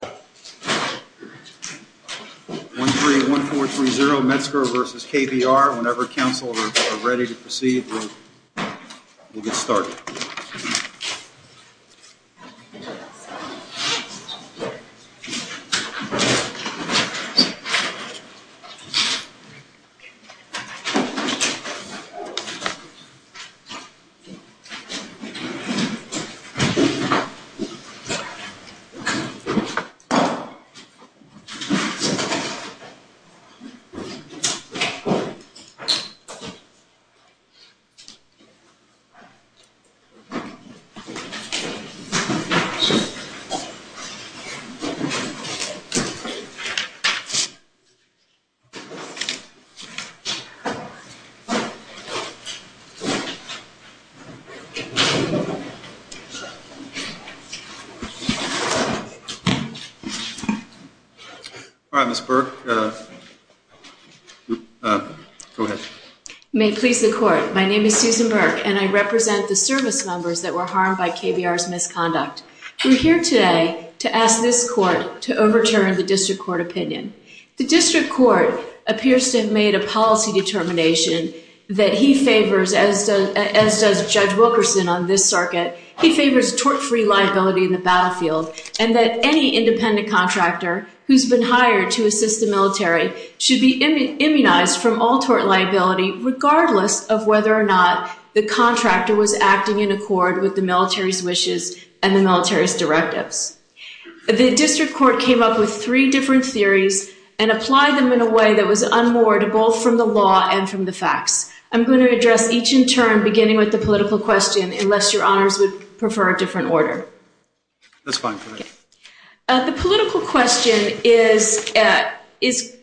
1, 3, 1, 4, 3, 0, Metzger versus KBR. Whenever council are ready to proceed, we'll get started. 1, 2, 3, 4, 5, 6, 7, 8, 9, 10, 11, 12, 13, 14, 15, 16, 17, 18, 19, 20, 21, 22, 23, 24, All right, Ms. Burke, go ahead. May it please the court, my name is Susan Burke, and I represent the service members that were harmed by KBR's misconduct. We're here today to ask this court to overturn the district court opinion. The district court appears to have made a policy determination that he favors, as does Judge Wilkerson on this circuit, he favors tort-free liability in the battlefield, and that any independent contractor who's been hired to assist the military should be immunized from all tort liability, regardless of whether or not the contractor was acting in accord with the military's wishes and the military's directives. The district court came up with three different theories and applied them in a way that was unmoored both from the law and from the facts. I'm going to address each in turn, beginning with the political question, unless your honors would prefer a different order. That's fine. The political question is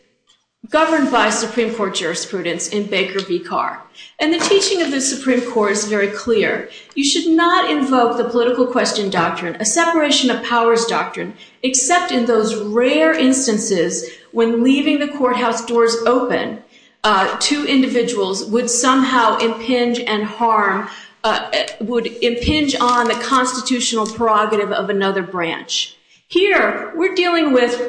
governed by Supreme Court jurisprudence in Baker v. Carr, and the teaching of the Supreme Court is very clear. You should not invoke the political question doctrine, a separation of powers doctrine, except in those rare instances when leaving the courthouse doors open, two individuals would somehow impinge on the constitutional prerogative of another branch. Here, we're dealing with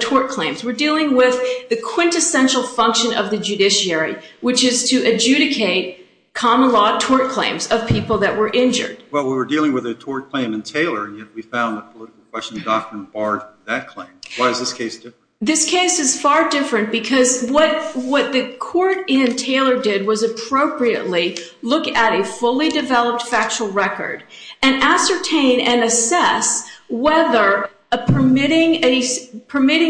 tort claims. We're dealing with the quintessential function of the judiciary, which is to adjudicate common law tort claims of people that were injured. Well, we were dealing with a tort claim in Taylor, and yet we found the political question doctrine barred that claim. Why is this case different? This case is far different because what the court in Taylor did was appropriately look at a fully developed factual record and ascertain and assess whether permitting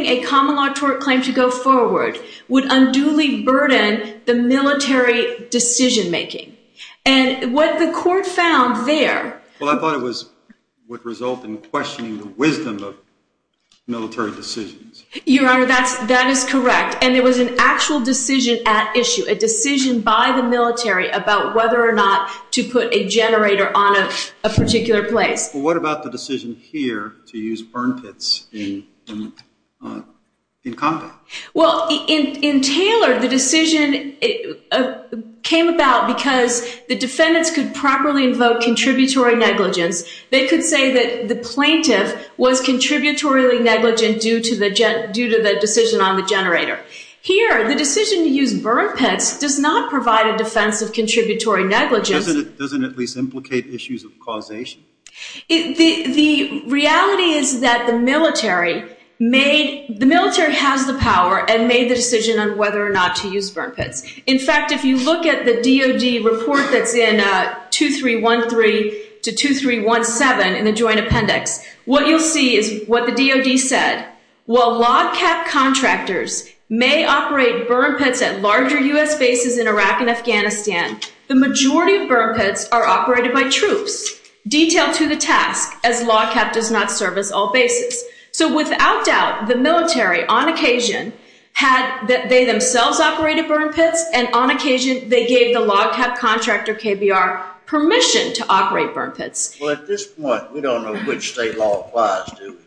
a common law tort claim to go forward would unduly burden the military decision making. And what the court found there— Well, I thought it would result in questioning the wisdom of military decisions. Your Honor, that is correct. And it was an actual decision at issue, a decision by the military about whether or not to put a generator on a particular place. What about the decision here to use burn pits in combat? Well, in Taylor, the decision came about because the defendants could properly invoke contributory negligence. They could say that the plaintiff was contributory negligent due to the decision on the generator. Here, the decision to use burn pits does not provide a defense of contributory negligence. But doesn't it at least implicate issues of causation? The reality is that the military has the power and made the decision on whether or not to use burn pits. In fact, if you look at the DOD report that's in 2313 to 2317 in the Joint Appendix, what you'll see is what the DOD said. While log cap contractors may operate burn pits at larger U.S. bases in Iraq and Afghanistan, the majority of burn pits are operated by troops. Detail to the task, as log cap does not service all bases. So without doubt, the military, on occasion, had that they themselves operated burn pits. And on occasion, they gave the log cap contractor, KBR, permission to operate burn pits. Well, at this point, we don't know which state law applies, do we?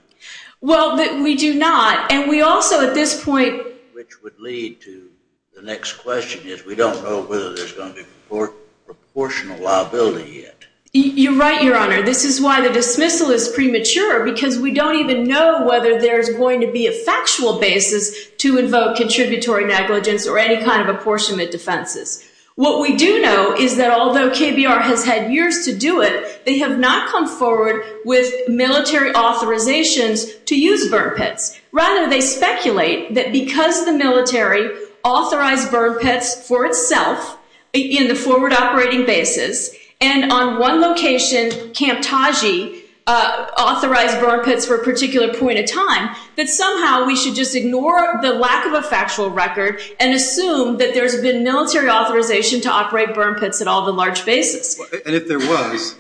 Well, we do not. And we also, at this point, which would lead to the next question, is we don't know whether there's going to be proportional liability yet. You're right, Your Honor. This is why the dismissal is premature, because we don't even know whether there's going to be a factual basis to invoke contributory negligence or any kind of apportionment defenses. What we do know is that although KBR has had years to do it, they have not come forward with military authorizations to use burn pits. Rather, they speculate that because the military authorized burn pits for itself in the forward operating bases, and on one location, Camp Taji authorized burn pits for a particular point in time, that somehow we should just ignore the lack of a factual record and assume that there's been military authorization to operate burn pits at all the large bases. And if there was,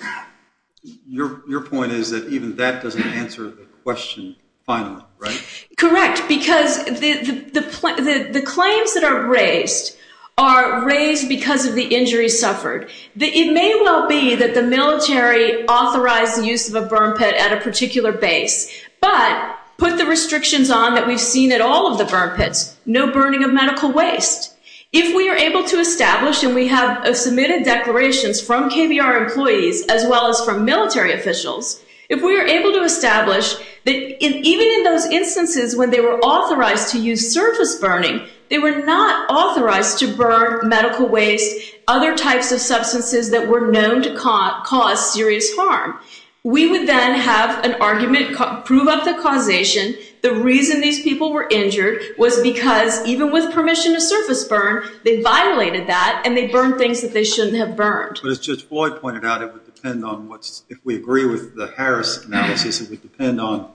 your point is that even that doesn't answer the question finally, right? Correct, because the claims that are raised are raised because of the injuries suffered. It may well be that the military authorized the use of a burn pit at a particular base, but put the restrictions on that we've seen at all of the burn pits, no burning of medical waste. If we are able to establish, and we have submitted declarations from KBR employees as well as from military officials, if we are able to establish that even in those instances when they were authorized to use surface burning, they were not authorized to burn medical waste, other types of substances that were known to cause serious harm, we would then have an argument, prove up the causation, the reason these people were injured was because even with permission to surface burn, they violated that and they burned things that they shouldn't have burned. But as Judge Floyd pointed out, it would depend on what, if we agree with the Harris analysis, it would depend on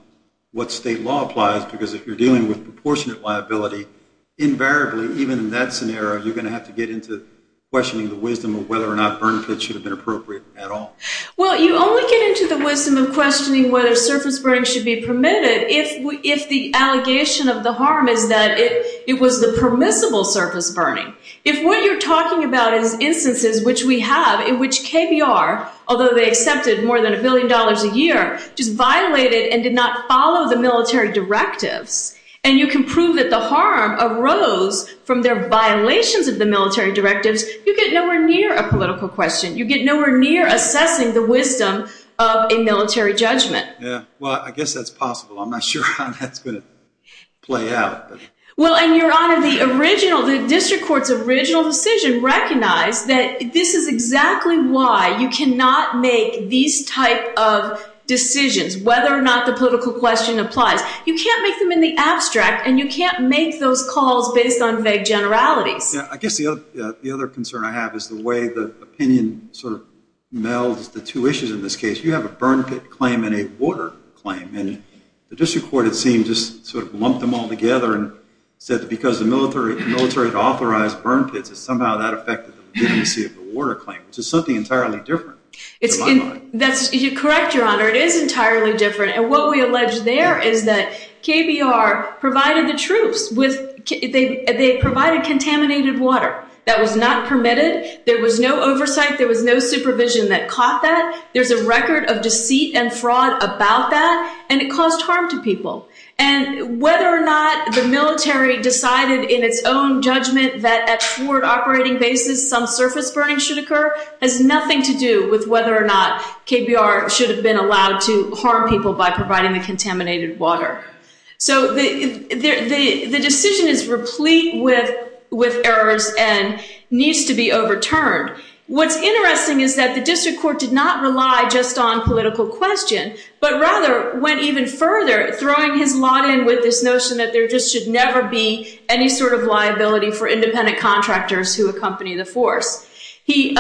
what state law applies, because if you're dealing with proportionate liability, invariably, even in that scenario, you're going to have to get into questioning the wisdom of whether or not burn pits should have been appropriate at all. Well, you only get into the wisdom of questioning whether surface burning should be permitted if the allegation of the harm is that it was the permissible surface burning. If what you're talking about is instances which we have in which KBR, although they accepted more than a billion dollars a year, just violated and did not follow the military directives, and you can prove that the harm arose from their violations of the military directives, you get nowhere near a political question. You get nowhere near assessing the wisdom of a military judgment. Yeah, well, I guess that's possible. I'm not sure how that's going to play out. Well, and Your Honor, the district court's original decision recognized that this is exactly why you cannot make these type of decisions, whether or not the political question applies. You can't make them in the abstract, and you can't make those calls based on vague generalities. I guess the other concern I have is the way the opinion sort of melds the two issues in this case. You have a burn pit claim and a water claim. The district court, it seemed, just sort of lumped them all together and said that because the military had authorized burn pits, that somehow that affected the legitimacy of the water claim, which is something entirely different. That's correct, Your Honor. It is entirely different. And what we allege there is that KBR provided the troops with, they provided contaminated water. That was not permitted. There was no oversight. There was no supervision that caught that. There's a record of deceit and fraud about that, and it caused harm to people. And whether or not the military decided in its own judgment that at short operating basis some surface burning should occur has nothing to do with whether or not KBR should have been allowed to harm people by providing the contaminated water. So the decision is replete with errors and needs to be overturned. What's interesting is that the district court did not rely just on political question, but rather went even further, throwing his lot in with this notion that there just should never be any sort of liability for independent contractors who accompany the force. He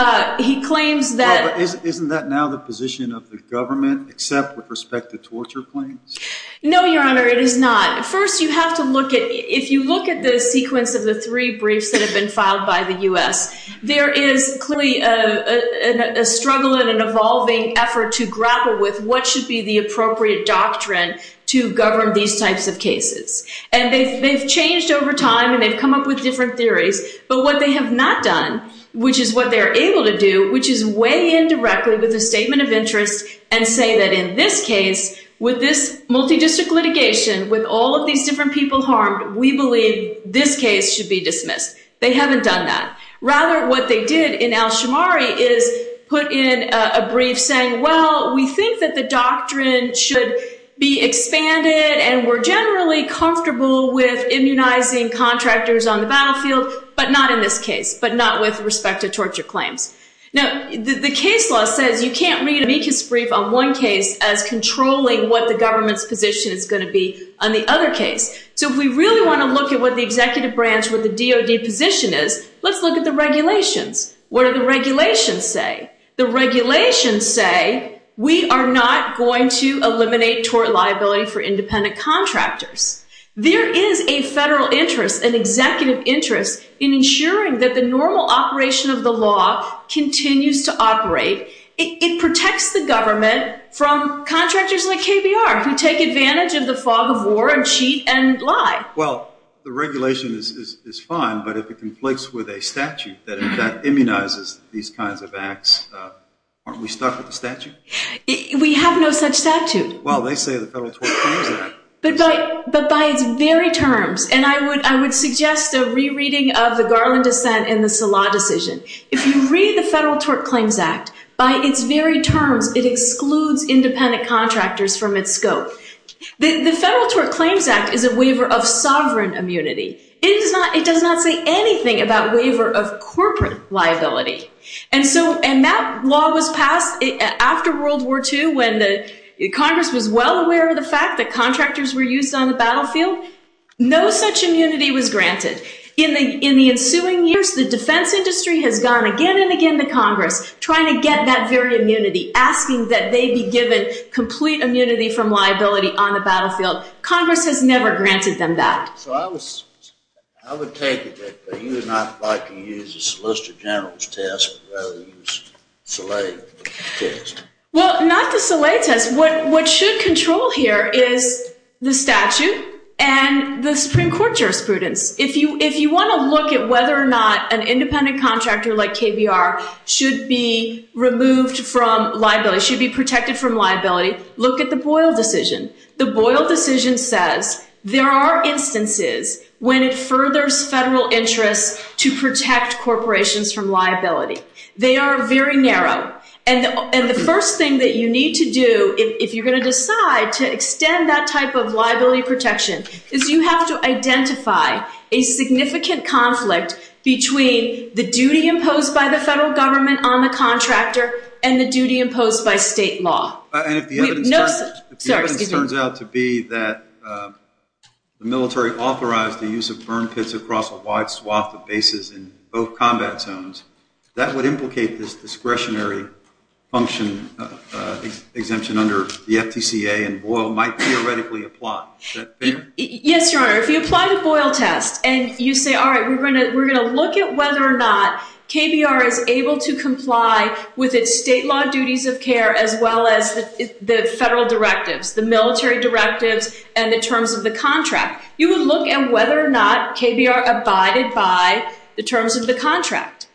claims that- Well, but isn't that now the position of the government, except with respect to torture claims? No, Your Honor, it is not. First, you have to look at, if you look at the sequence of the three briefs that have filed by the U.S., there is clearly a struggle and an evolving effort to grapple with what should be the appropriate doctrine to govern these types of cases. And they've changed over time, and they've come up with different theories. But what they have not done, which is what they're able to do, which is weigh in directly with a statement of interest and say that in this case, with this multidistrict litigation, with all of these different people harmed, we believe this case should be dismissed. They haven't done that. Rather, what they did in Al-Shamari is put in a brief saying, well, we think that the doctrine should be expanded, and we're generally comfortable with immunizing contractors on the battlefield, but not in this case, but not with respect to torture claims. Now, the case law says you can't read an amicus brief on one case as controlling what the government's position is going to be on the other case. So if we really want to look at what the executive branch, what the DOD position is, let's look at the regulations. What do the regulations say? The regulations say we are not going to eliminate tort liability for independent contractors. There is a federal interest, an executive interest in ensuring that the normal operation of the law continues to operate. It protects the government from contractors like KBR who take advantage of the fog of war and cheat and lie. Well, the regulation is fine, but if it conflates with a statute that immunizes these kinds of acts, aren't we stuck with the statute? We have no such statute. Well, they say the Federal Tort Claims Act. But by its very terms, and I would suggest a rereading of the Garland dissent and the Salah decision. If you read the Federal Tort Claims Act, by its very terms, it excludes independent contractors from its scope. The Federal Tort Claims Act is a waiver of sovereign immunity. It does not say anything about waiver of corporate liability. And that law was passed after World War II when Congress was well aware of the fact that contractors were used on the battlefield. No such immunity was granted. In the ensuing years, the defense industry has gone again and again to Congress trying to get that very immunity, asking that they be given complete immunity from liability on the battlefield. Congress has never granted them that. So I would take it that you would not like to use a Solicitor General's test, but rather use Salah's test. Well, not the Salah test. What should control here is the statute and the Supreme Court jurisprudence. If you want to look at whether or not an independent contractor like KBR should be removed from liability, should be protected from liability, look at the Boyle decision. The Boyle decision says there are instances when it furthers federal interests to protect corporations from liability. They are very narrow. And the first thing that you need to do if you're going to decide to extend that type of liability protection is you have to identify a significant conflict between the duty imposed by the federal government on the contractor and the duty imposed by state law. And if the evidence turns out to be that the military authorized the use of burn pits across a wide swath of bases in both combat zones, that would implicate this discretionary function exemption under the FTCA and Boyle might theoretically apply. Is that fair? Yes, Your Honor. If you apply the Boyle test and you say, all right, we're going to look at whether or not KBR is able to comply with its state law duties of care as well as the federal directives, the military directives, and the terms of the contract, you would look at whether or not KBR abided by the terms of the contract.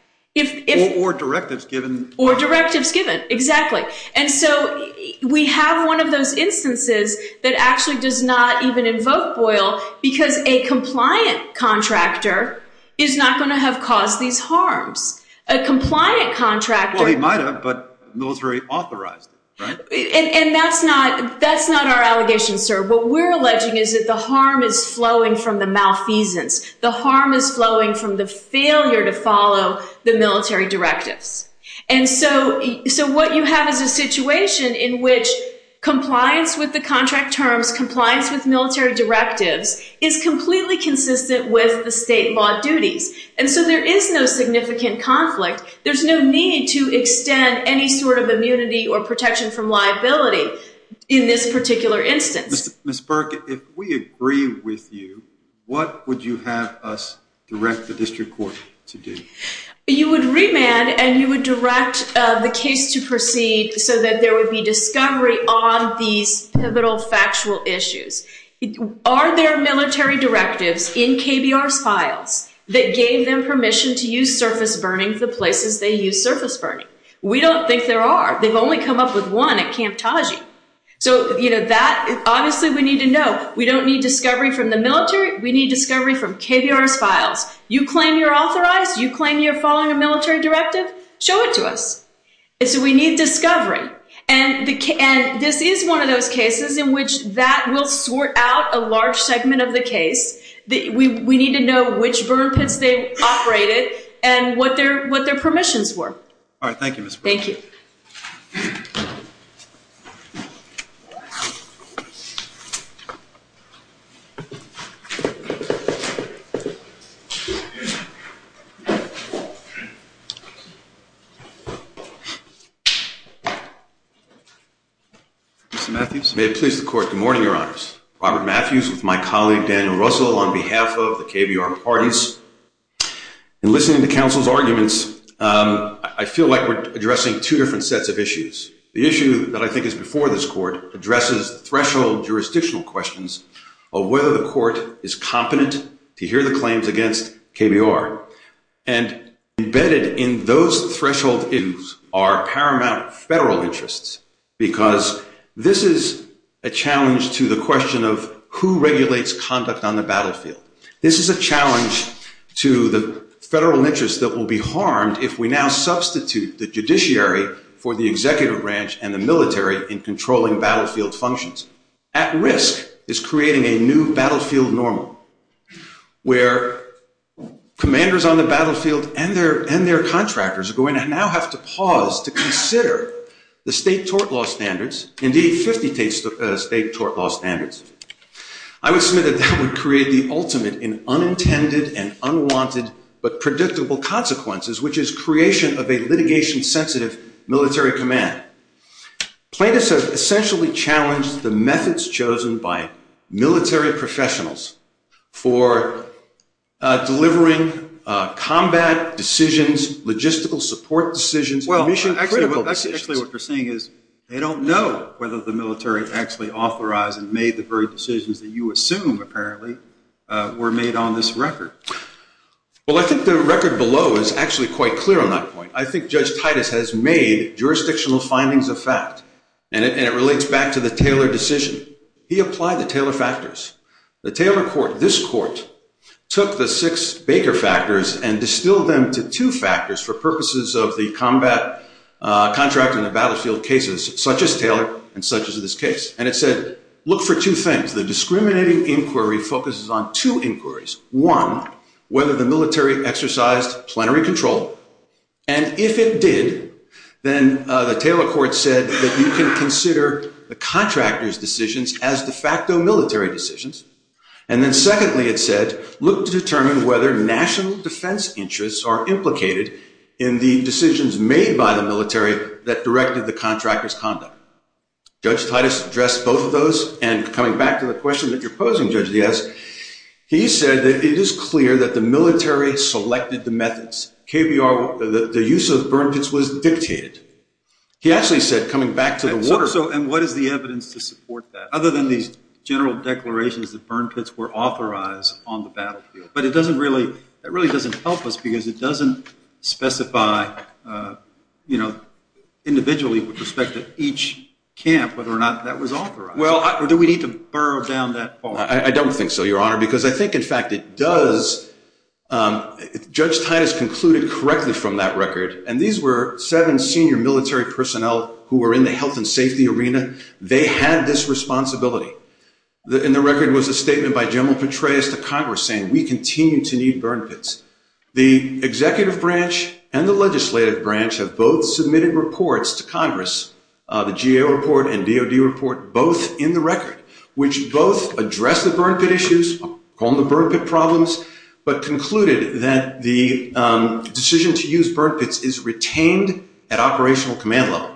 Or directives given. Or directives given. Exactly. And so we have one of those instances that actually does not even invoke Boyle because a compliant contractor is not going to have caused these harms. A compliant contractor- Well, he might have, but the military authorized it, right? And that's not our allegation, sir. What we're alleging is that the harm is flowing from the malfeasance. The harm is flowing from the failure to follow the military directives. And so what you have is a situation in which compliance with the contract terms, compliance with military directives, is completely consistent with the state law duties. And so there is no significant conflict. There's no need to extend any sort of immunity or protection from liability in this particular instance. Ms. Burke, if we agree with you, what would you have us direct the district court to do? You would remand and you would direct the case to proceed so that there would be discovery on these pivotal factual issues. Are there military directives in KBR's files that gave them permission to use surface burning the places they use surface burning? We don't think there are. They've only come up with one at Camp Taji. So, you know, that obviously we need to know. We don't need discovery from the military. We need discovery from KBR's files. You claim you're authorized. You claim you're following a military directive. Show it to us. And so we need discovery. And this is one of those cases in which that will sort out a large segment of the case. We need to know which burn pits they've operated and what their permissions were. All right. Thank you, Ms. Burke. Thank you. Mr. Matthews. May it please the court. Good morning, Your Honors. Robert Matthews with my colleague Daniel Russell on behalf of the KBR parties. In listening to counsel's arguments, I feel like we're addressing two different sets of issues. The issue that I think is before this court addresses threshold jurisdictional questions of whether the court is competent to hear the claims against KBR. And embedded in those threshold issues are paramount federal interests, because this is a challenge to the question of who regulates conduct on the battlefield. This is a challenge to the federal interests that will be harmed if we now substitute the judiciary for the executive branch and the military in controlling battlefield functions. At risk is creating a new battlefield normal, where commanders on the battlefield and their contractors are going to now have to pause to consider the state tort law standards, indeed 50 state tort law standards. I would submit that that would create the ultimate in unintended and unwanted but predictable consequences, which is creation of a litigation-sensitive military command. Plaintiffs have essentially challenged the methods chosen by military professionals for delivering combat decisions, logistical support decisions, and mission-critical decisions. Actually, what you're saying is they don't know whether the military actually authorized and made the very decisions that you assume apparently were made on this record. Well, I think the record below is actually quite clear on that point. I think Judge Titus has made jurisdictional findings of fact, and it relates back to the Taylor decision. He applied the Taylor factors. The Taylor court, this court, took the six Baker factors and distilled them to two factors for purposes of the combat contract and the battlefield cases, such as Taylor and such as this case. And it said, look for two things. The discriminating inquiry focuses on two inquiries. One, whether the military exercised plenary control. And if it did, then the Taylor court said that you can consider the contractor's decisions as de facto military decisions. And then secondly, it said, look to determine whether national defense interests are implicated in the decisions made by the military that directed the contractor's conduct. Judge Titus addressed both of those. And coming back to the question that you're posing, Judge Diaz, he said that it is clear that the military selected the methods. KBR, the use of the burn pits was dictated. He actually said, coming back to the water. So, and what is the evidence to support that? Other than these general declarations that burn pits were authorized on the battlefield. But it doesn't really, that really doesn't help us because it doesn't specify, you know, individually with respect to each camp, whether or not that was authorized. Well, do we need to burrow down that far? I don't think so, Your Honor, because I think in fact it does. Judge Titus concluded correctly from that record. And these were seven senior military personnel who were in the health and safety arena. They had this responsibility. And the record was a statement by General Petraeus to Congress saying, we continue to need burn pits. The GAO report and DOD report, both in the record, which both address the burn pit issues, call them the burn pit problems, but concluded that the decision to use burn pits is retained at operational command level.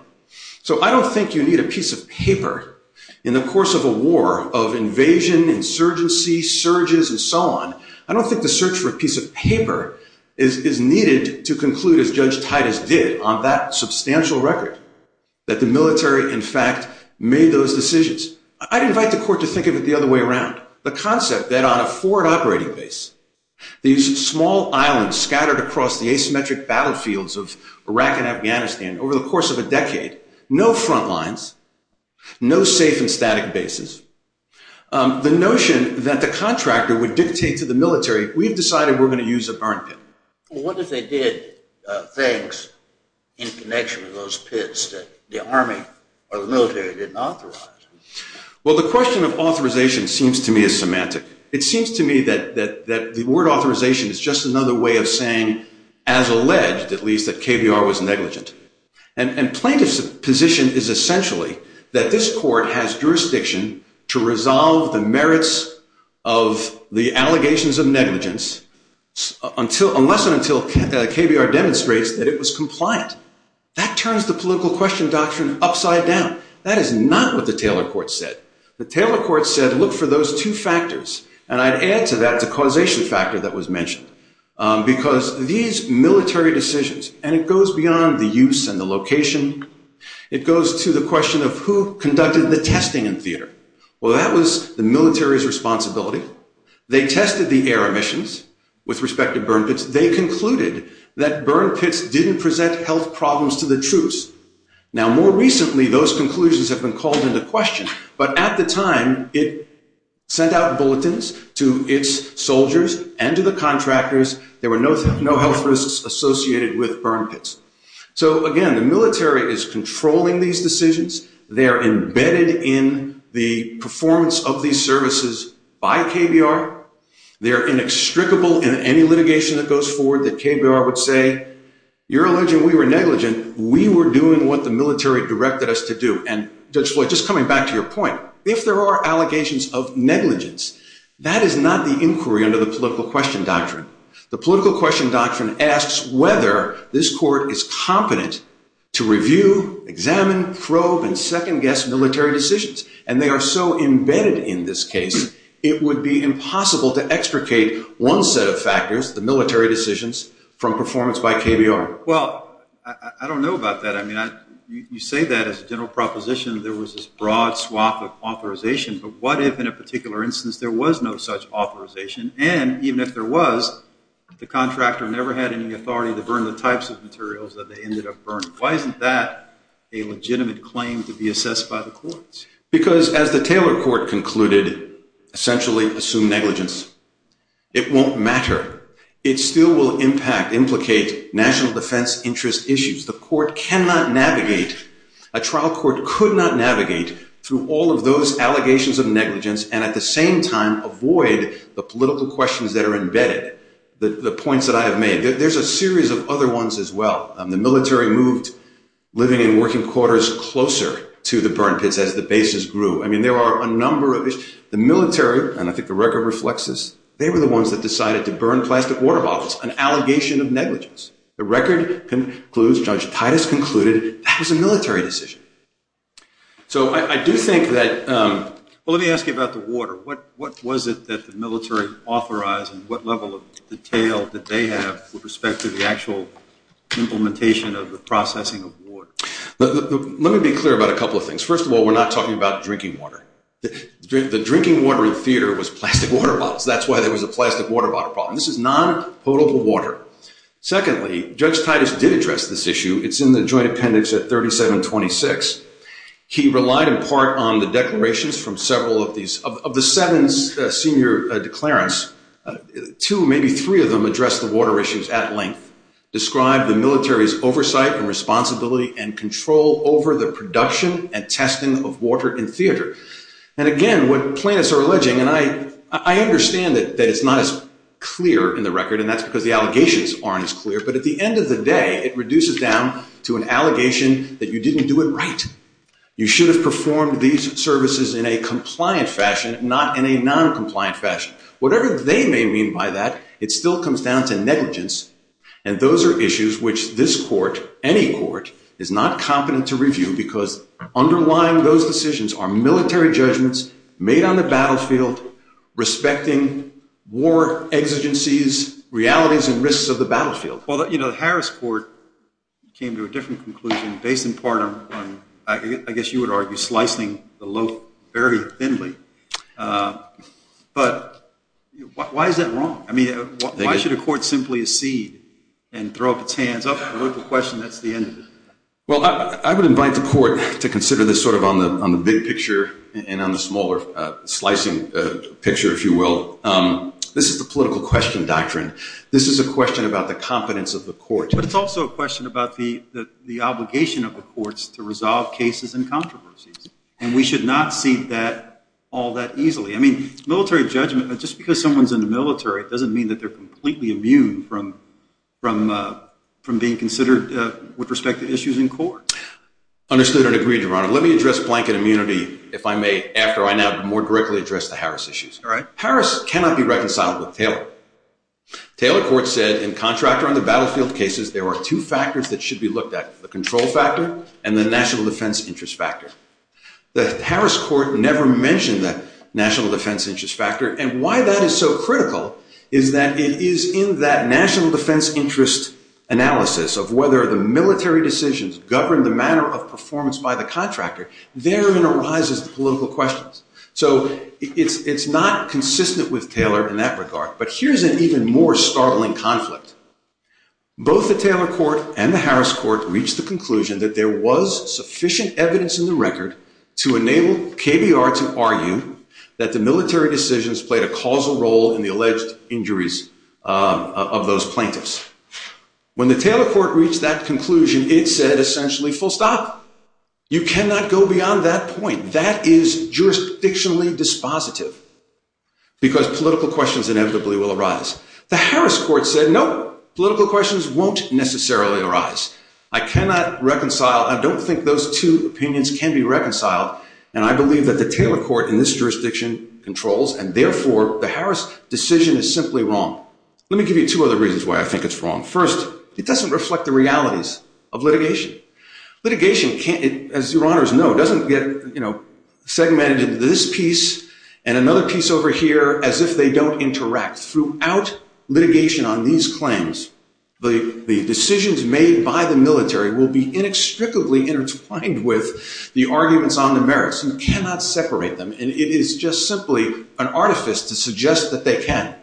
So I don't think you need a piece of paper in the course of a war of invasion, insurgency, surges, and so on. I don't think the search for a piece of paper is needed to conclude as Judge Titus did on that substantial record. The military, in fact, made those decisions. I'd invite the court to think of it the other way around. The concept that on a forward operating base, these small islands scattered across the asymmetric battlefields of Iraq and Afghanistan over the course of a decade, no front lines, no safe and static bases. The notion that the contractor would dictate to the military, we've decided we're going to use a burn pit. What if they did things in connection with those pits that the army or the military didn't authorize? Well, the question of authorization seems to me is semantic. It seems to me that the word authorization is just another way of saying, as alleged, at least, that KBR was negligent. And plaintiff's position is essentially that this court has jurisdiction to resolve the merits of the allegations of negligence unless and until KBR demonstrates that it was compliant. That turns the political question doctrine upside down. That is not what the Taylor Court said. The Taylor Court said, look for those two factors. And I'd add to that the causation factor that was mentioned. Because these military decisions, and it goes beyond the use and the location, it goes to the question of who conducted the testing in theater. Well, that was the military's responsibility. They tested the air emissions with respect to burn pits. They concluded that burn pits didn't present health problems to the troops. Now, more recently, those conclusions have been called into question. But at the time, it sent out bulletins to its soldiers and to the contractors. There were no health risks associated with burn pits. So again, the military is controlling these decisions. They are embedded in the performance of these services by KBR. They're inextricable in any litigation that goes forward that KBR would say, you're alleging we were negligent. We were doing what the military directed us to do. And Judge Floyd, just coming back to your point, if there are allegations of negligence, that is not the inquiry under the political question doctrine. The political question doctrine asks whether this court is competent to review, examine, probe, and second-guess military decisions. And they are so embedded in this case, it would be impossible to extricate one set of factors, the military decisions, from performance by KBR. Well, I don't know about that. I mean, you say that as a general proposition, there was this broad swath of authorization. But what if, in a particular instance, there was no such authorization? And even if there was, the contractor never had any authority to burn the types of materials that they ended up burning. Why isn't that a legitimate claim to be assessed by the courts? Because, as the Taylor Court concluded, essentially assume negligence. It won't matter. It still will impact, implicate national defense interest issues. The court cannot navigate, a trial court could not navigate, through all of those allegations of negligence, and at the same time, avoid the political questions that are embedded, the points that I have made. There's a series of other ones as well. The military moved living and working quarters closer to the burn pits as the bases grew. I mean, there are a number of issues. The military, and I think the record reflects this, they were the ones that decided to burn plastic water bottles, an allegation of negligence. The record concludes, Judge Titus concluded, that was a military decision. So, I do think that, well, let me ask you about the water. What was it that the military authorized, and what level of detail did they have, with respect to the actual implementation of the processing of water? Let me be clear about a couple of things. First of all, we're not talking about drinking water. The drinking water in the theater was plastic water bottles. That's why there was a plastic water bottle problem. This is non-potable water. Secondly, Judge Titus did address this issue. It's in the joint appendix at 3726. He relied in part on the declarations from several of these, of the seven senior declarants, two, maybe three of them addressed the water issues at length, described the military's oversight and responsibility and control over the production and testing of water in theater. And again, what plaintiffs are alleging, and I understand that it's not as clear in the record, and that's because the allegations aren't as clear, but at the end of the day, it reduces down to an allegation that you didn't do it right. You should have performed these services in a compliant fashion, not in a non-compliant fashion. Whatever they may mean by that, it still comes down to negligence. And those are issues which this court, any court, is not competent to review because underlying those decisions are military judgments made on the battlefield, respecting war exigencies, realities and risks of the battlefield. Well, the Harris court came to a different conclusion based in part on, I guess you would argue, slicing the loaf very thinly. But why is that wrong? I mean, why should a court simply accede and throw up its hands up and look at the question, that's the end of it? Well, I would invite the court to consider this sort of on the big picture and on the smaller slicing picture, if you will. This is the political question doctrine. This is a question about the competence of the court. But it's also a question about the obligation of the courts to resolve cases and controversies. And we should not see that all that easily. I mean, military judgment, just because someone's in the military, it doesn't mean that they're completely immune from being considered with respect to issues in court. Understood and agreed, Your Honor. Let me address blanket immunity, if I may, All right. Harris cannot be reconciled with Taylor. Taylor Court said, in contractor on the battlefield cases, there are two factors that should be looked at, the control factor and the national defense interest factor. The Harris Court never mentioned the national defense interest factor. And why that is so critical is that it is in that national defense interest analysis of whether the military decisions govern the manner of performance by the contractor. Therein arises the political questions. So it's not consistent with Taylor in that regard. But here's an even more startling conflict. Both the Taylor Court and the Harris Court reached the conclusion that there was sufficient evidence in the record to enable KBR to argue that the military decisions played a causal role in the alleged injuries of those plaintiffs. When the Taylor Court reached that conclusion, it said essentially, full stop. You cannot go beyond that point. That is jurisdictionally dispositive because political questions inevitably will arise. The Harris Court said, no, political questions won't necessarily arise. I cannot reconcile. I don't think those two opinions can be reconciled. And I believe that the Taylor Court in this jurisdiction controls and therefore the Harris decision is simply wrong. Let me give you two other reasons why I think it's wrong. First, it doesn't reflect the realities of litigation. Litigation, as your honors know, doesn't get segmented into this piece and another piece over here, as if they don't interact. Throughout litigation on these claims, the decisions made by the military will be inextricably intertwined with the arguments on the merits. You cannot separate them. And it is just simply an artifice to suggest that they can.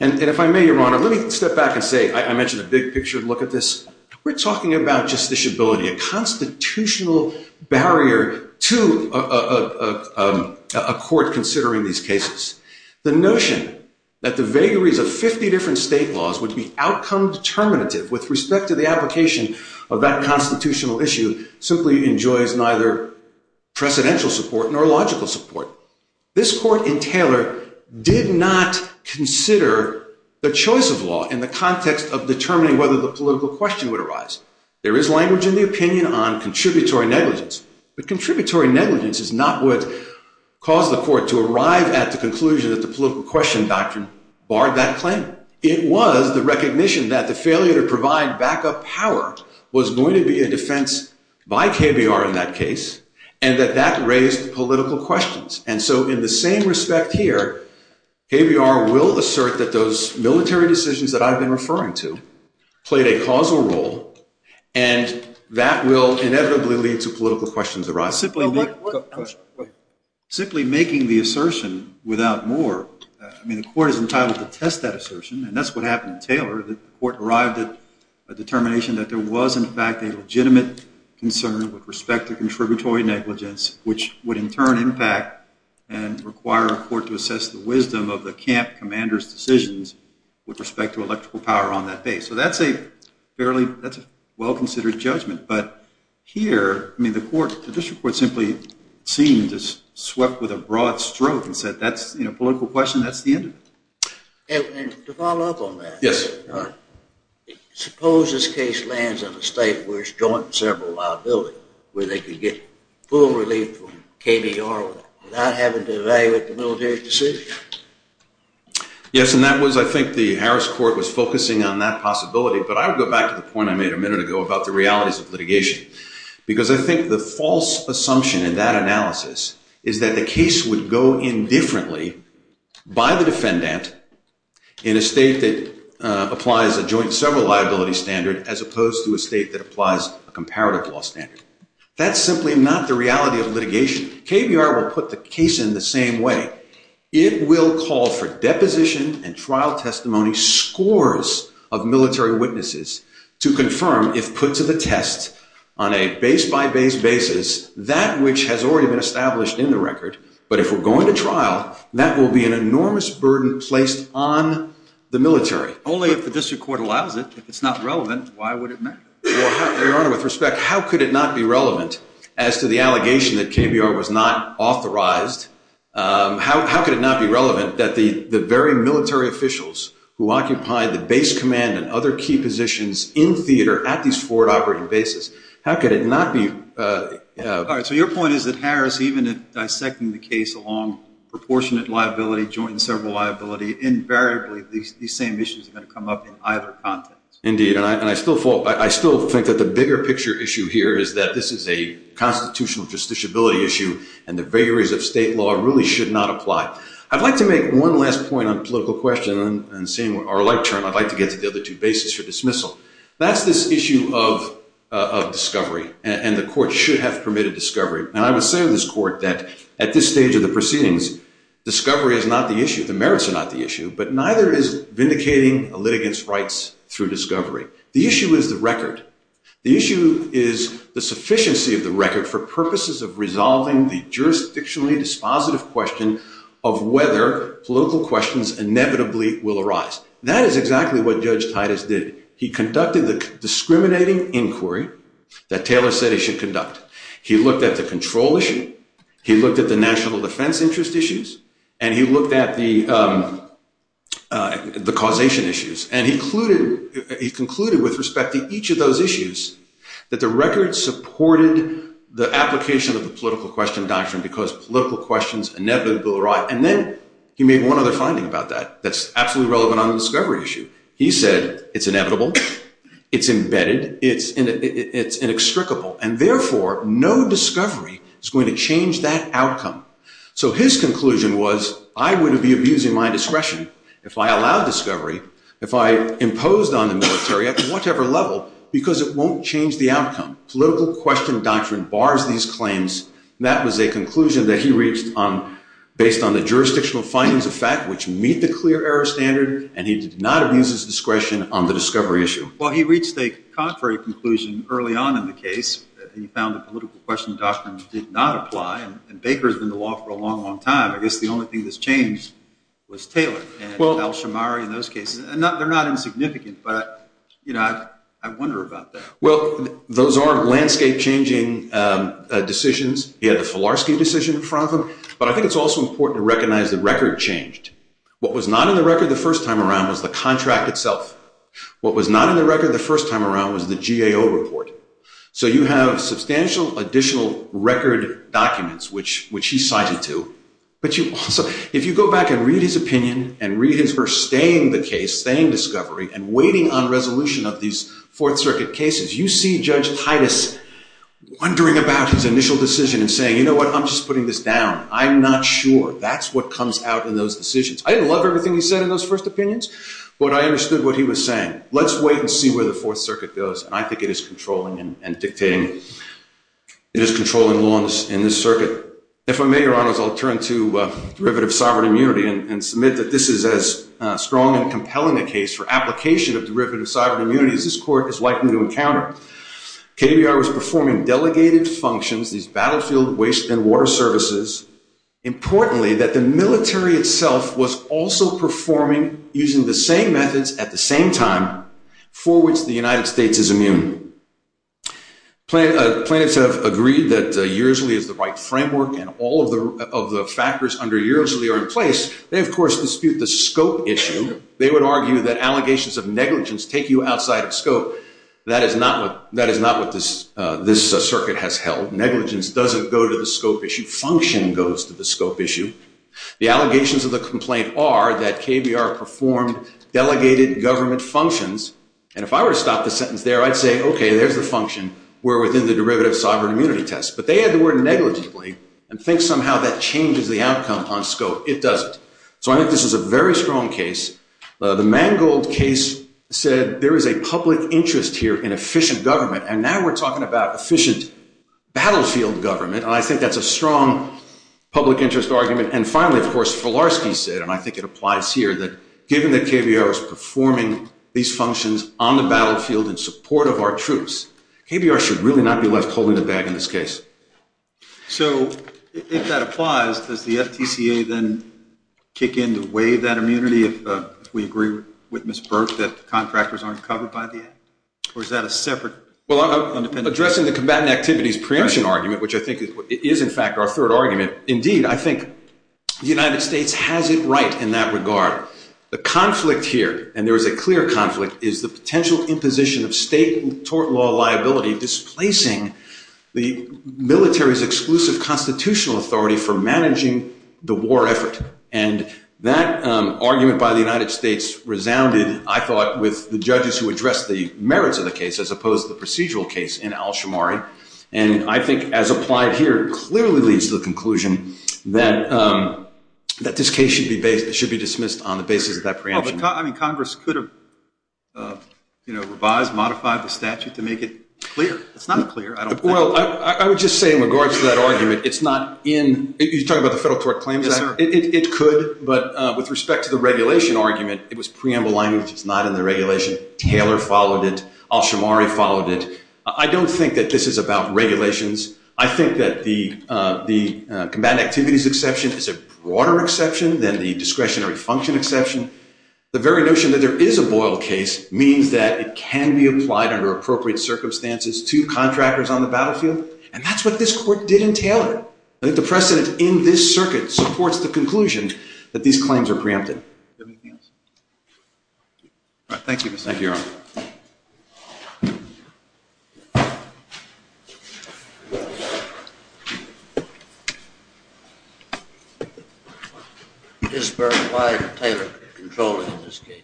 And if I may, your honor, let me step back and say, I mentioned a big picture, look at this. We're talking about justiciability, a constitutional barrier to a court considering these cases. The notion that the vagaries of 50 different state laws would be outcome determinative with respect to the application of that constitutional issue simply enjoys neither precedential support nor logical support. This court in Taylor did not consider the choice of law in the context of determining whether the political question would arise. There is language in the opinion on contributory negligence, but contributory negligence is not what caused the court to arrive at the conclusion that the political question doctrine barred that claim. It was the recognition that the failure to provide backup power was going to be a defense by KBR in that case and that that raised political questions. And so in the same respect here, KBR will assert that those military decisions that I've been referring to played a causal role and that will inevitably lead to political questions arise. Simply making the assertion without more, I mean, the court is entitled to test that assertion and that's what happened in Taylor. The court arrived at a determination that there was in fact a legitimate concern with respect to contributory negligence, which would in turn impact and require a court to assess the wisdom of the camp commander's decisions with respect to electrical power on that base. So that's a fairly, that's a well-considered judgment. But here, I mean, the court, the district court simply seemed to swept with a broad stroke and said, that's a political question, that's the end of it. And to follow up on that. Yes. Suppose this case lands in a state where it's joint and several liability, where they could get full relief from KBR without having to evaluate the military decision. Yes, and that was, I think, the Harris court was focusing on that possibility, but I would go back to the point I made a minute ago about the realities of litigation. Because I think the false assumption in that analysis is that the case would go in differently by the defendant in a state that applies a joint several liability standard, as opposed to a state that applies a comparative law standard. That's simply not the reality of litigation. KBR will put the case in the same way. It will call for deposition and trial testimony, scores of military witnesses to confirm if put to the test on a base-by-base basis, that which has already been established in the record. But if we're going to trial, that will be an enormous burden placed on the military. Only if the district court allows it. If it's not relevant, why would it matter? Well, Your Honor, with respect, how could it not be relevant as to the allegation that KBR was not authorized? How could it not be relevant that the very military officials who occupied the base command and other key positions in theater at these forward operating bases, how could it not be? All right, so your point is that Harris, even in dissecting the case along proportionate liability, joint and several liability, invariably these same issues are going to come up in either context. Indeed, and I still think that the bigger picture issue here is that this is a constitutional justiciability issue and the vagaries of state law really should not apply. I'd like to make one last point on political question and seeing our light turn, I'd like to get to the other two bases for dismissal. That's this issue of discovery and the court should have permitted discovery. And I would say to this court that at this stage of the proceedings, discovery is not the issue. The merits are not the issue, but neither is vindicating a litigant's rights through discovery. The issue is the record. The issue is the sufficiency of the record for purposes of resolving the jurisdictionally dispositive question of whether political questions inevitably will arise. That is exactly what Judge Titus did. He conducted the discriminating inquiry that Taylor said he should conduct. He looked at the control issue. He looked at the national defense interest issues and he looked at the causation issues and he concluded with respect to each of those issues that the record supported the application of the political question doctrine because political questions inevitably will arise. And then he made one other finding about that that's absolutely relevant on the discovery issue. He said, it's inevitable. It's embedded. It's inextricable. And therefore no discovery is going to change that outcome. So his conclusion was, I wouldn't be abusing my discretion if I allowed discovery, if I imposed on the military at whatever level because it won't change the outcome. Political question doctrine bars these claims. That was a conclusion that he reached based on the jurisdictional findings of fact which meet the clear error standard and he did not abuse his discretion on the discovery issue. Well, he reached a contrary conclusion early on in the case. He found the political question doctrine did not apply and Baker has been in the law for a long, long time. I guess the only thing that's changed was Taylor and Al-Shamari in those cases. They're not insignificant, but I wonder about that. Well, those are landscape changing decisions. He had the Filarski decision in front of him, but I think it's also important to recognize the record changed. What was not in the record the first time around was the contract itself. What was not in the record the first time around was the GAO report. So you have substantial additional record documents which he cited to, but you also, if you go back and read his opinion and read his for staying the case, staying discovery and waiting on resolution of these Fourth Circuit cases, you see Judge Titus wondering about his initial decision and saying, you know what? I'm just putting this down. I'm not sure. That's what comes out in those decisions. I didn't love everything he said in those first opinions, but I understood what he was saying. Let's wait and see where the Fourth Circuit goes and I think it is controlling and dictating. It is controlling law in this circuit. If I may, your honors, I'll turn to derivative sovereign immunity and submit that this is as strong and compelling a case for application of derivative sovereign immunity as this court is likely to encounter. KBR was performing delegated functions, these battlefield waste and water services. Importantly, that the military itself was also performing using the same methods at the same time for which the United States is immune. Plaintiffs have agreed that Yearly is the right framework and all of the factors under Yearly are in place. They, of course, dispute the scope issue. They would argue that allegations of negligence take you outside of scope. That is not what this circuit has held. Negligence doesn't go to the scope issue. Function goes to the scope issue. The allegations of the complaint are that KBR performed delegated government functions and if I were to stop the sentence there, I'd say, okay, there's the function. We're within the derivative sovereign immunity test. But they add the word negligently and think somehow that changes the outcome on scope. It doesn't. So I think this is a very strong case. The Mangold case said there is a public interest here in efficient government and now we're talking about efficient battlefield government. I think that's a strong public interest argument. And finally, of course, Filarski said, and I think it applies here, that given that KBR was performing these functions on the battlefield in support of our troops, KBR should really not be left holding the bag in this case. So if that applies, does the FTCA then kick in to waive that immunity if we agree with Ms. Burke that the contractors aren't covered by the act? Or is that a separate? Well, addressing the combatant activities preemption argument, which I think is in fact our third argument. Indeed, I think the United States has it right in that regard. The conflict here, and there is a clear conflict, is the potential imposition of state tort law liability displacing the military's exclusive constitutional authority for managing the war effort. And that argument by the United States resounded, I thought, with the judges who addressed the merits of the case, as opposed to the procedural case in Al-Shammari. And I think as applied here, clearly leads to the conclusion that this case should be dismissed on the basis of that preemption. I mean, Congress could have revised, modified the statute to make it clear. It's not clear. Well, I would just say in regards to that argument, it's not in, you're talking about the Federal Tort Claims Act? It could, but with respect to the regulation argument, it was preamble language. It's not in the regulation. Taylor followed it. Al-Shammari followed it. I don't think that this is about regulations. I think that the combatant activities exception is a broader exception than the discretionary function exception. The very notion that there is a Boyle case means that it can be applied under appropriate circumstances to contractors on the battlefield. And that's what this court did in Taylor. I think the precedent in this circuit supports the conclusion that these claims are preempted. Do you have anything else? All right, thank you, Mr. Chairman. Thank you, Your Honor. Ms. Burke, why did Taylor control it in this case?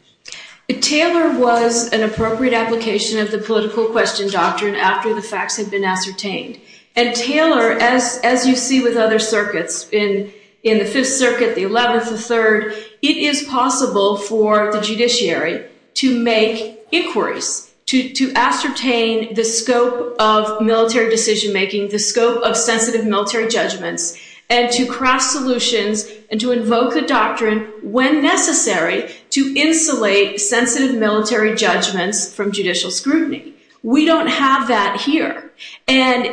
Taylor was an appropriate application of the political question doctrine after the facts had been ascertained. And Taylor, as you see with other circuits, in the Fifth Circuit, the 11th, the 3rd, it is possible for the judiciary to make inquiries, to ascertain the scope of military decision-making, the scope of sensitive military judgments, and to craft solutions and to invoke the doctrine when necessary to insulate sensitive military judgments from judicial scrutiny. We don't have that here. And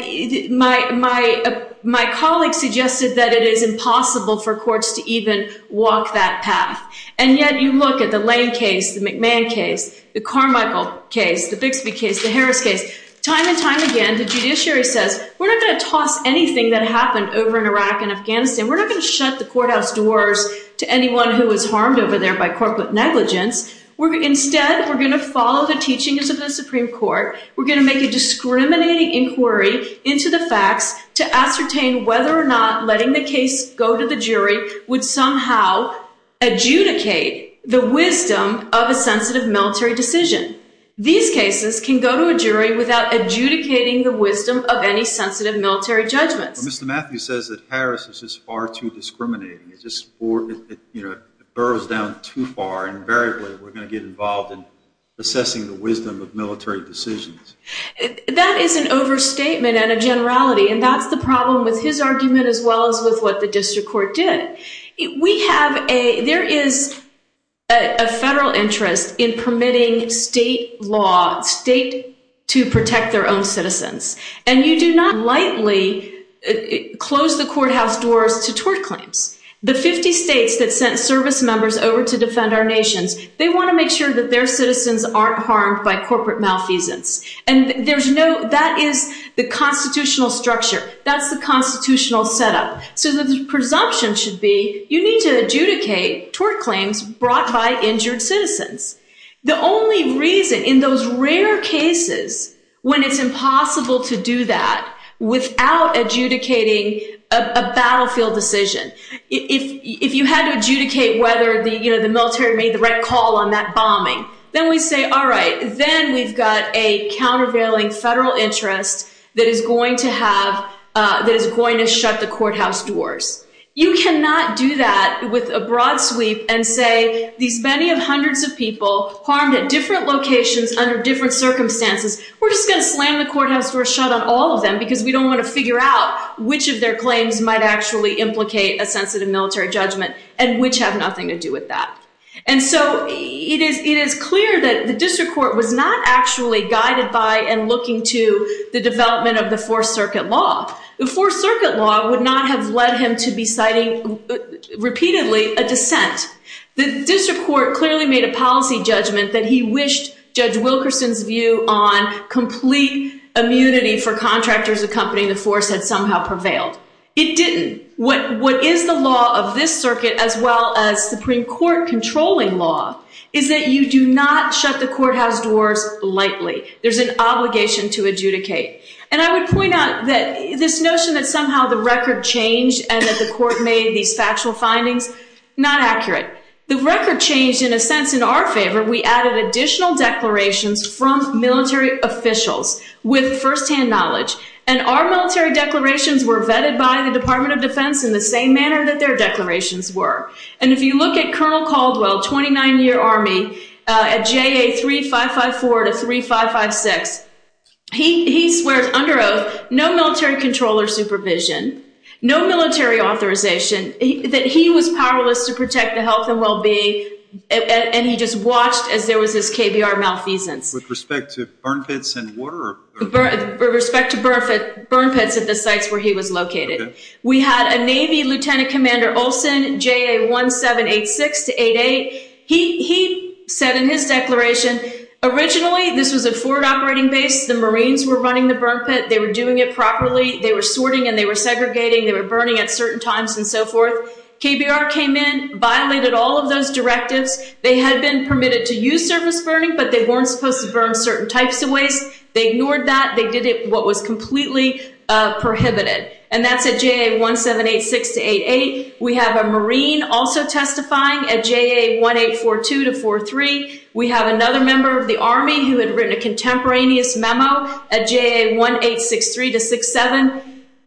my colleague suggested that it is impossible for courts to even walk that path. And yet you look at the Lane case, the McMahon case, the Carmichael case, the Bixby case, the Harris case, time and time again, the judiciary says, we're not gonna toss anything that happened over in Iraq and Afghanistan. We're not gonna shut the courthouse doors to anyone who was harmed over there by corporate negligence. We're, instead, we're gonna follow the teachings of the Supreme Court. We're gonna make a discriminating inquiry into the facts to ascertain whether or not letting the case go to the jury would somehow adjudicate the wisdom of a sensitive military decision. These cases can go to a jury without adjudicating the wisdom of any sensitive military judgments. But Mr. Matthews says that Harris is just far too discriminating. It burrows down too far. Invariably, we're gonna get involved in assessing the wisdom of military decisions. That is an overstatement and a generality. And that's the problem with his argument, as well as with what the district court did. We have a, there is a federal interest in permitting state law, state to protect their own citizens. And you do not lightly close the courthouse doors to tort claims. The 50 states that sent service members over to defend our nations, they wanna make sure that their citizens aren't harmed by corporate malfeasance. And there's no, that is the constitutional structure. That's the constitutional setup. So the presumption should be, you need to adjudicate tort claims brought by injured citizens. The only reason, in those rare cases, when it's impossible to do that without adjudicating a battlefield decision, if you had to adjudicate whether the military made the right call on that bombing, then we say, all right, then we've got a countervailing federal interest that is going to have, that is going to shut the courthouse doors. You cannot do that with a broad sweep and say, these many of hundreds of people harmed at different locations under different circumstances, we're just gonna slam the courthouse door shut on all of them because we don't wanna figure out which of their claims might actually implicate a sensitive military judgment and which have nothing to do with that. And so it is clear that the district court was not actually guided by and looking to the development of the fourth circuit law. The fourth circuit law would not have led him to be citing repeatedly a dissent. The district court clearly made a policy judgment that he wished Judge Wilkerson's view on complete immunity for contractors accompanying the force had somehow prevailed. It didn't. What is the law of this circuit as well as Supreme Court controlling law is that you do not shut the courthouse doors lightly. There's an obligation to adjudicate. And I would point out that this notion that somehow the record changed and that the court made these factual findings, not accurate. The record changed in a sense in our favor, we added additional declarations from military officials with firsthand knowledge and our military declarations were vetted by the Department of Defense in the same manner that their declarations were. And if you look at Colonel Caldwell, 29-year army at JA 3554 to 3556, he swears under oath, no military control or supervision, no military authorization, that he was powerless to protect the health and well-being. And he just watched as there was this KBR malfeasance. With respect to burn pits and water? With respect to burn pits at the sites where he was located. We had a Navy Lieutenant Commander Olsen, JA 1786 to 88. He said in his declaration, originally this was a forward operating base. The Marines were running the burn pit. They were doing it properly. They were sorting and they were segregating. They were burning at certain times and so forth. KBR came in, violated all of those directives. They had been permitted to use surface burning, but they weren't supposed to burn certain types of waste. They ignored that. They did what was completely prohibited. And that's at JA 1786 to 88. We have a Marine also testifying at JA 1842 to 43. We have another member of the army who had written a contemporaneous memo at JA 1863 to 67.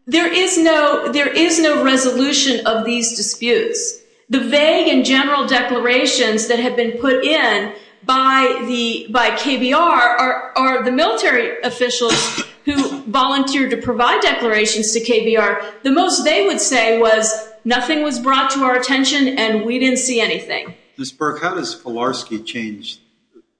There is no resolution of these disputes. The vague and general declarations that have been put in by KBR are the military officials who volunteered to provide declarations to KBR. The most they would say was nothing was brought to our attention and we didn't see anything. Ms. Burke, how does Filarski change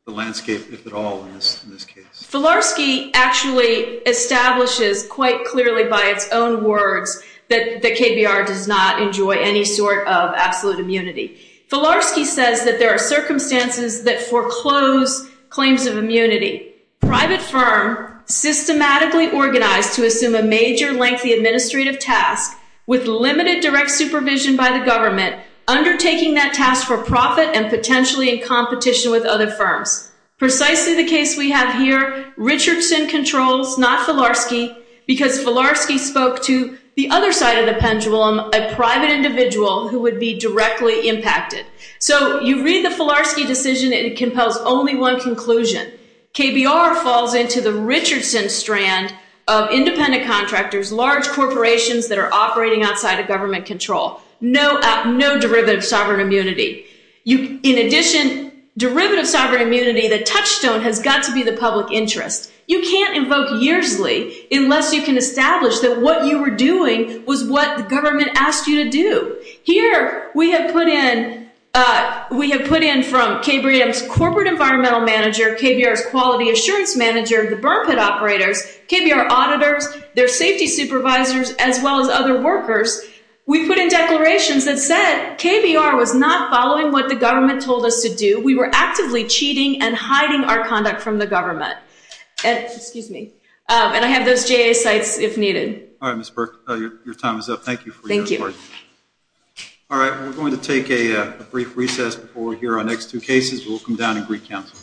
the landscape if at all in this case? Filarski actually establishes quite clearly by its own words that KBR does not enjoy any sort of absolute immunity. Filarski says that there are circumstances that foreclose claims of immunity. Private firm systematically organized to assume a major lengthy administrative task with limited direct supervision by the government, undertaking that task for profit and potentially in competition with other firms. Precisely the case we have here, Richardson controls, not Filarski, because Filarski spoke to the other side of the pendulum, a private individual who would be directly impacted. So you read the Filarski decision and it compels only one conclusion. KBR falls into the Richardson strand of independent contractors, large corporations that are operating outside of government control. No derivative sovereign immunity. In addition, derivative sovereign immunity, the touchstone has got to be the public interest. You can't invoke yearsly unless you can establish that what you were doing was what the government asked you to do. Here, we have put in from KBR's corporate environmental manager, KBR's quality assurance manager, the burn pit operators, KBR auditors, their safety supervisors, as well as other workers. We put in declarations that said KBR was not following what the government told us to do. We were actively cheating and hiding our conduct from the government. Excuse me. And I have those JA sites if needed. All right, Ms. Burke, your time is up. Thank you for your report. All right, we're going to take a brief recess before we hear our next two cases. We'll come down and greet counsel.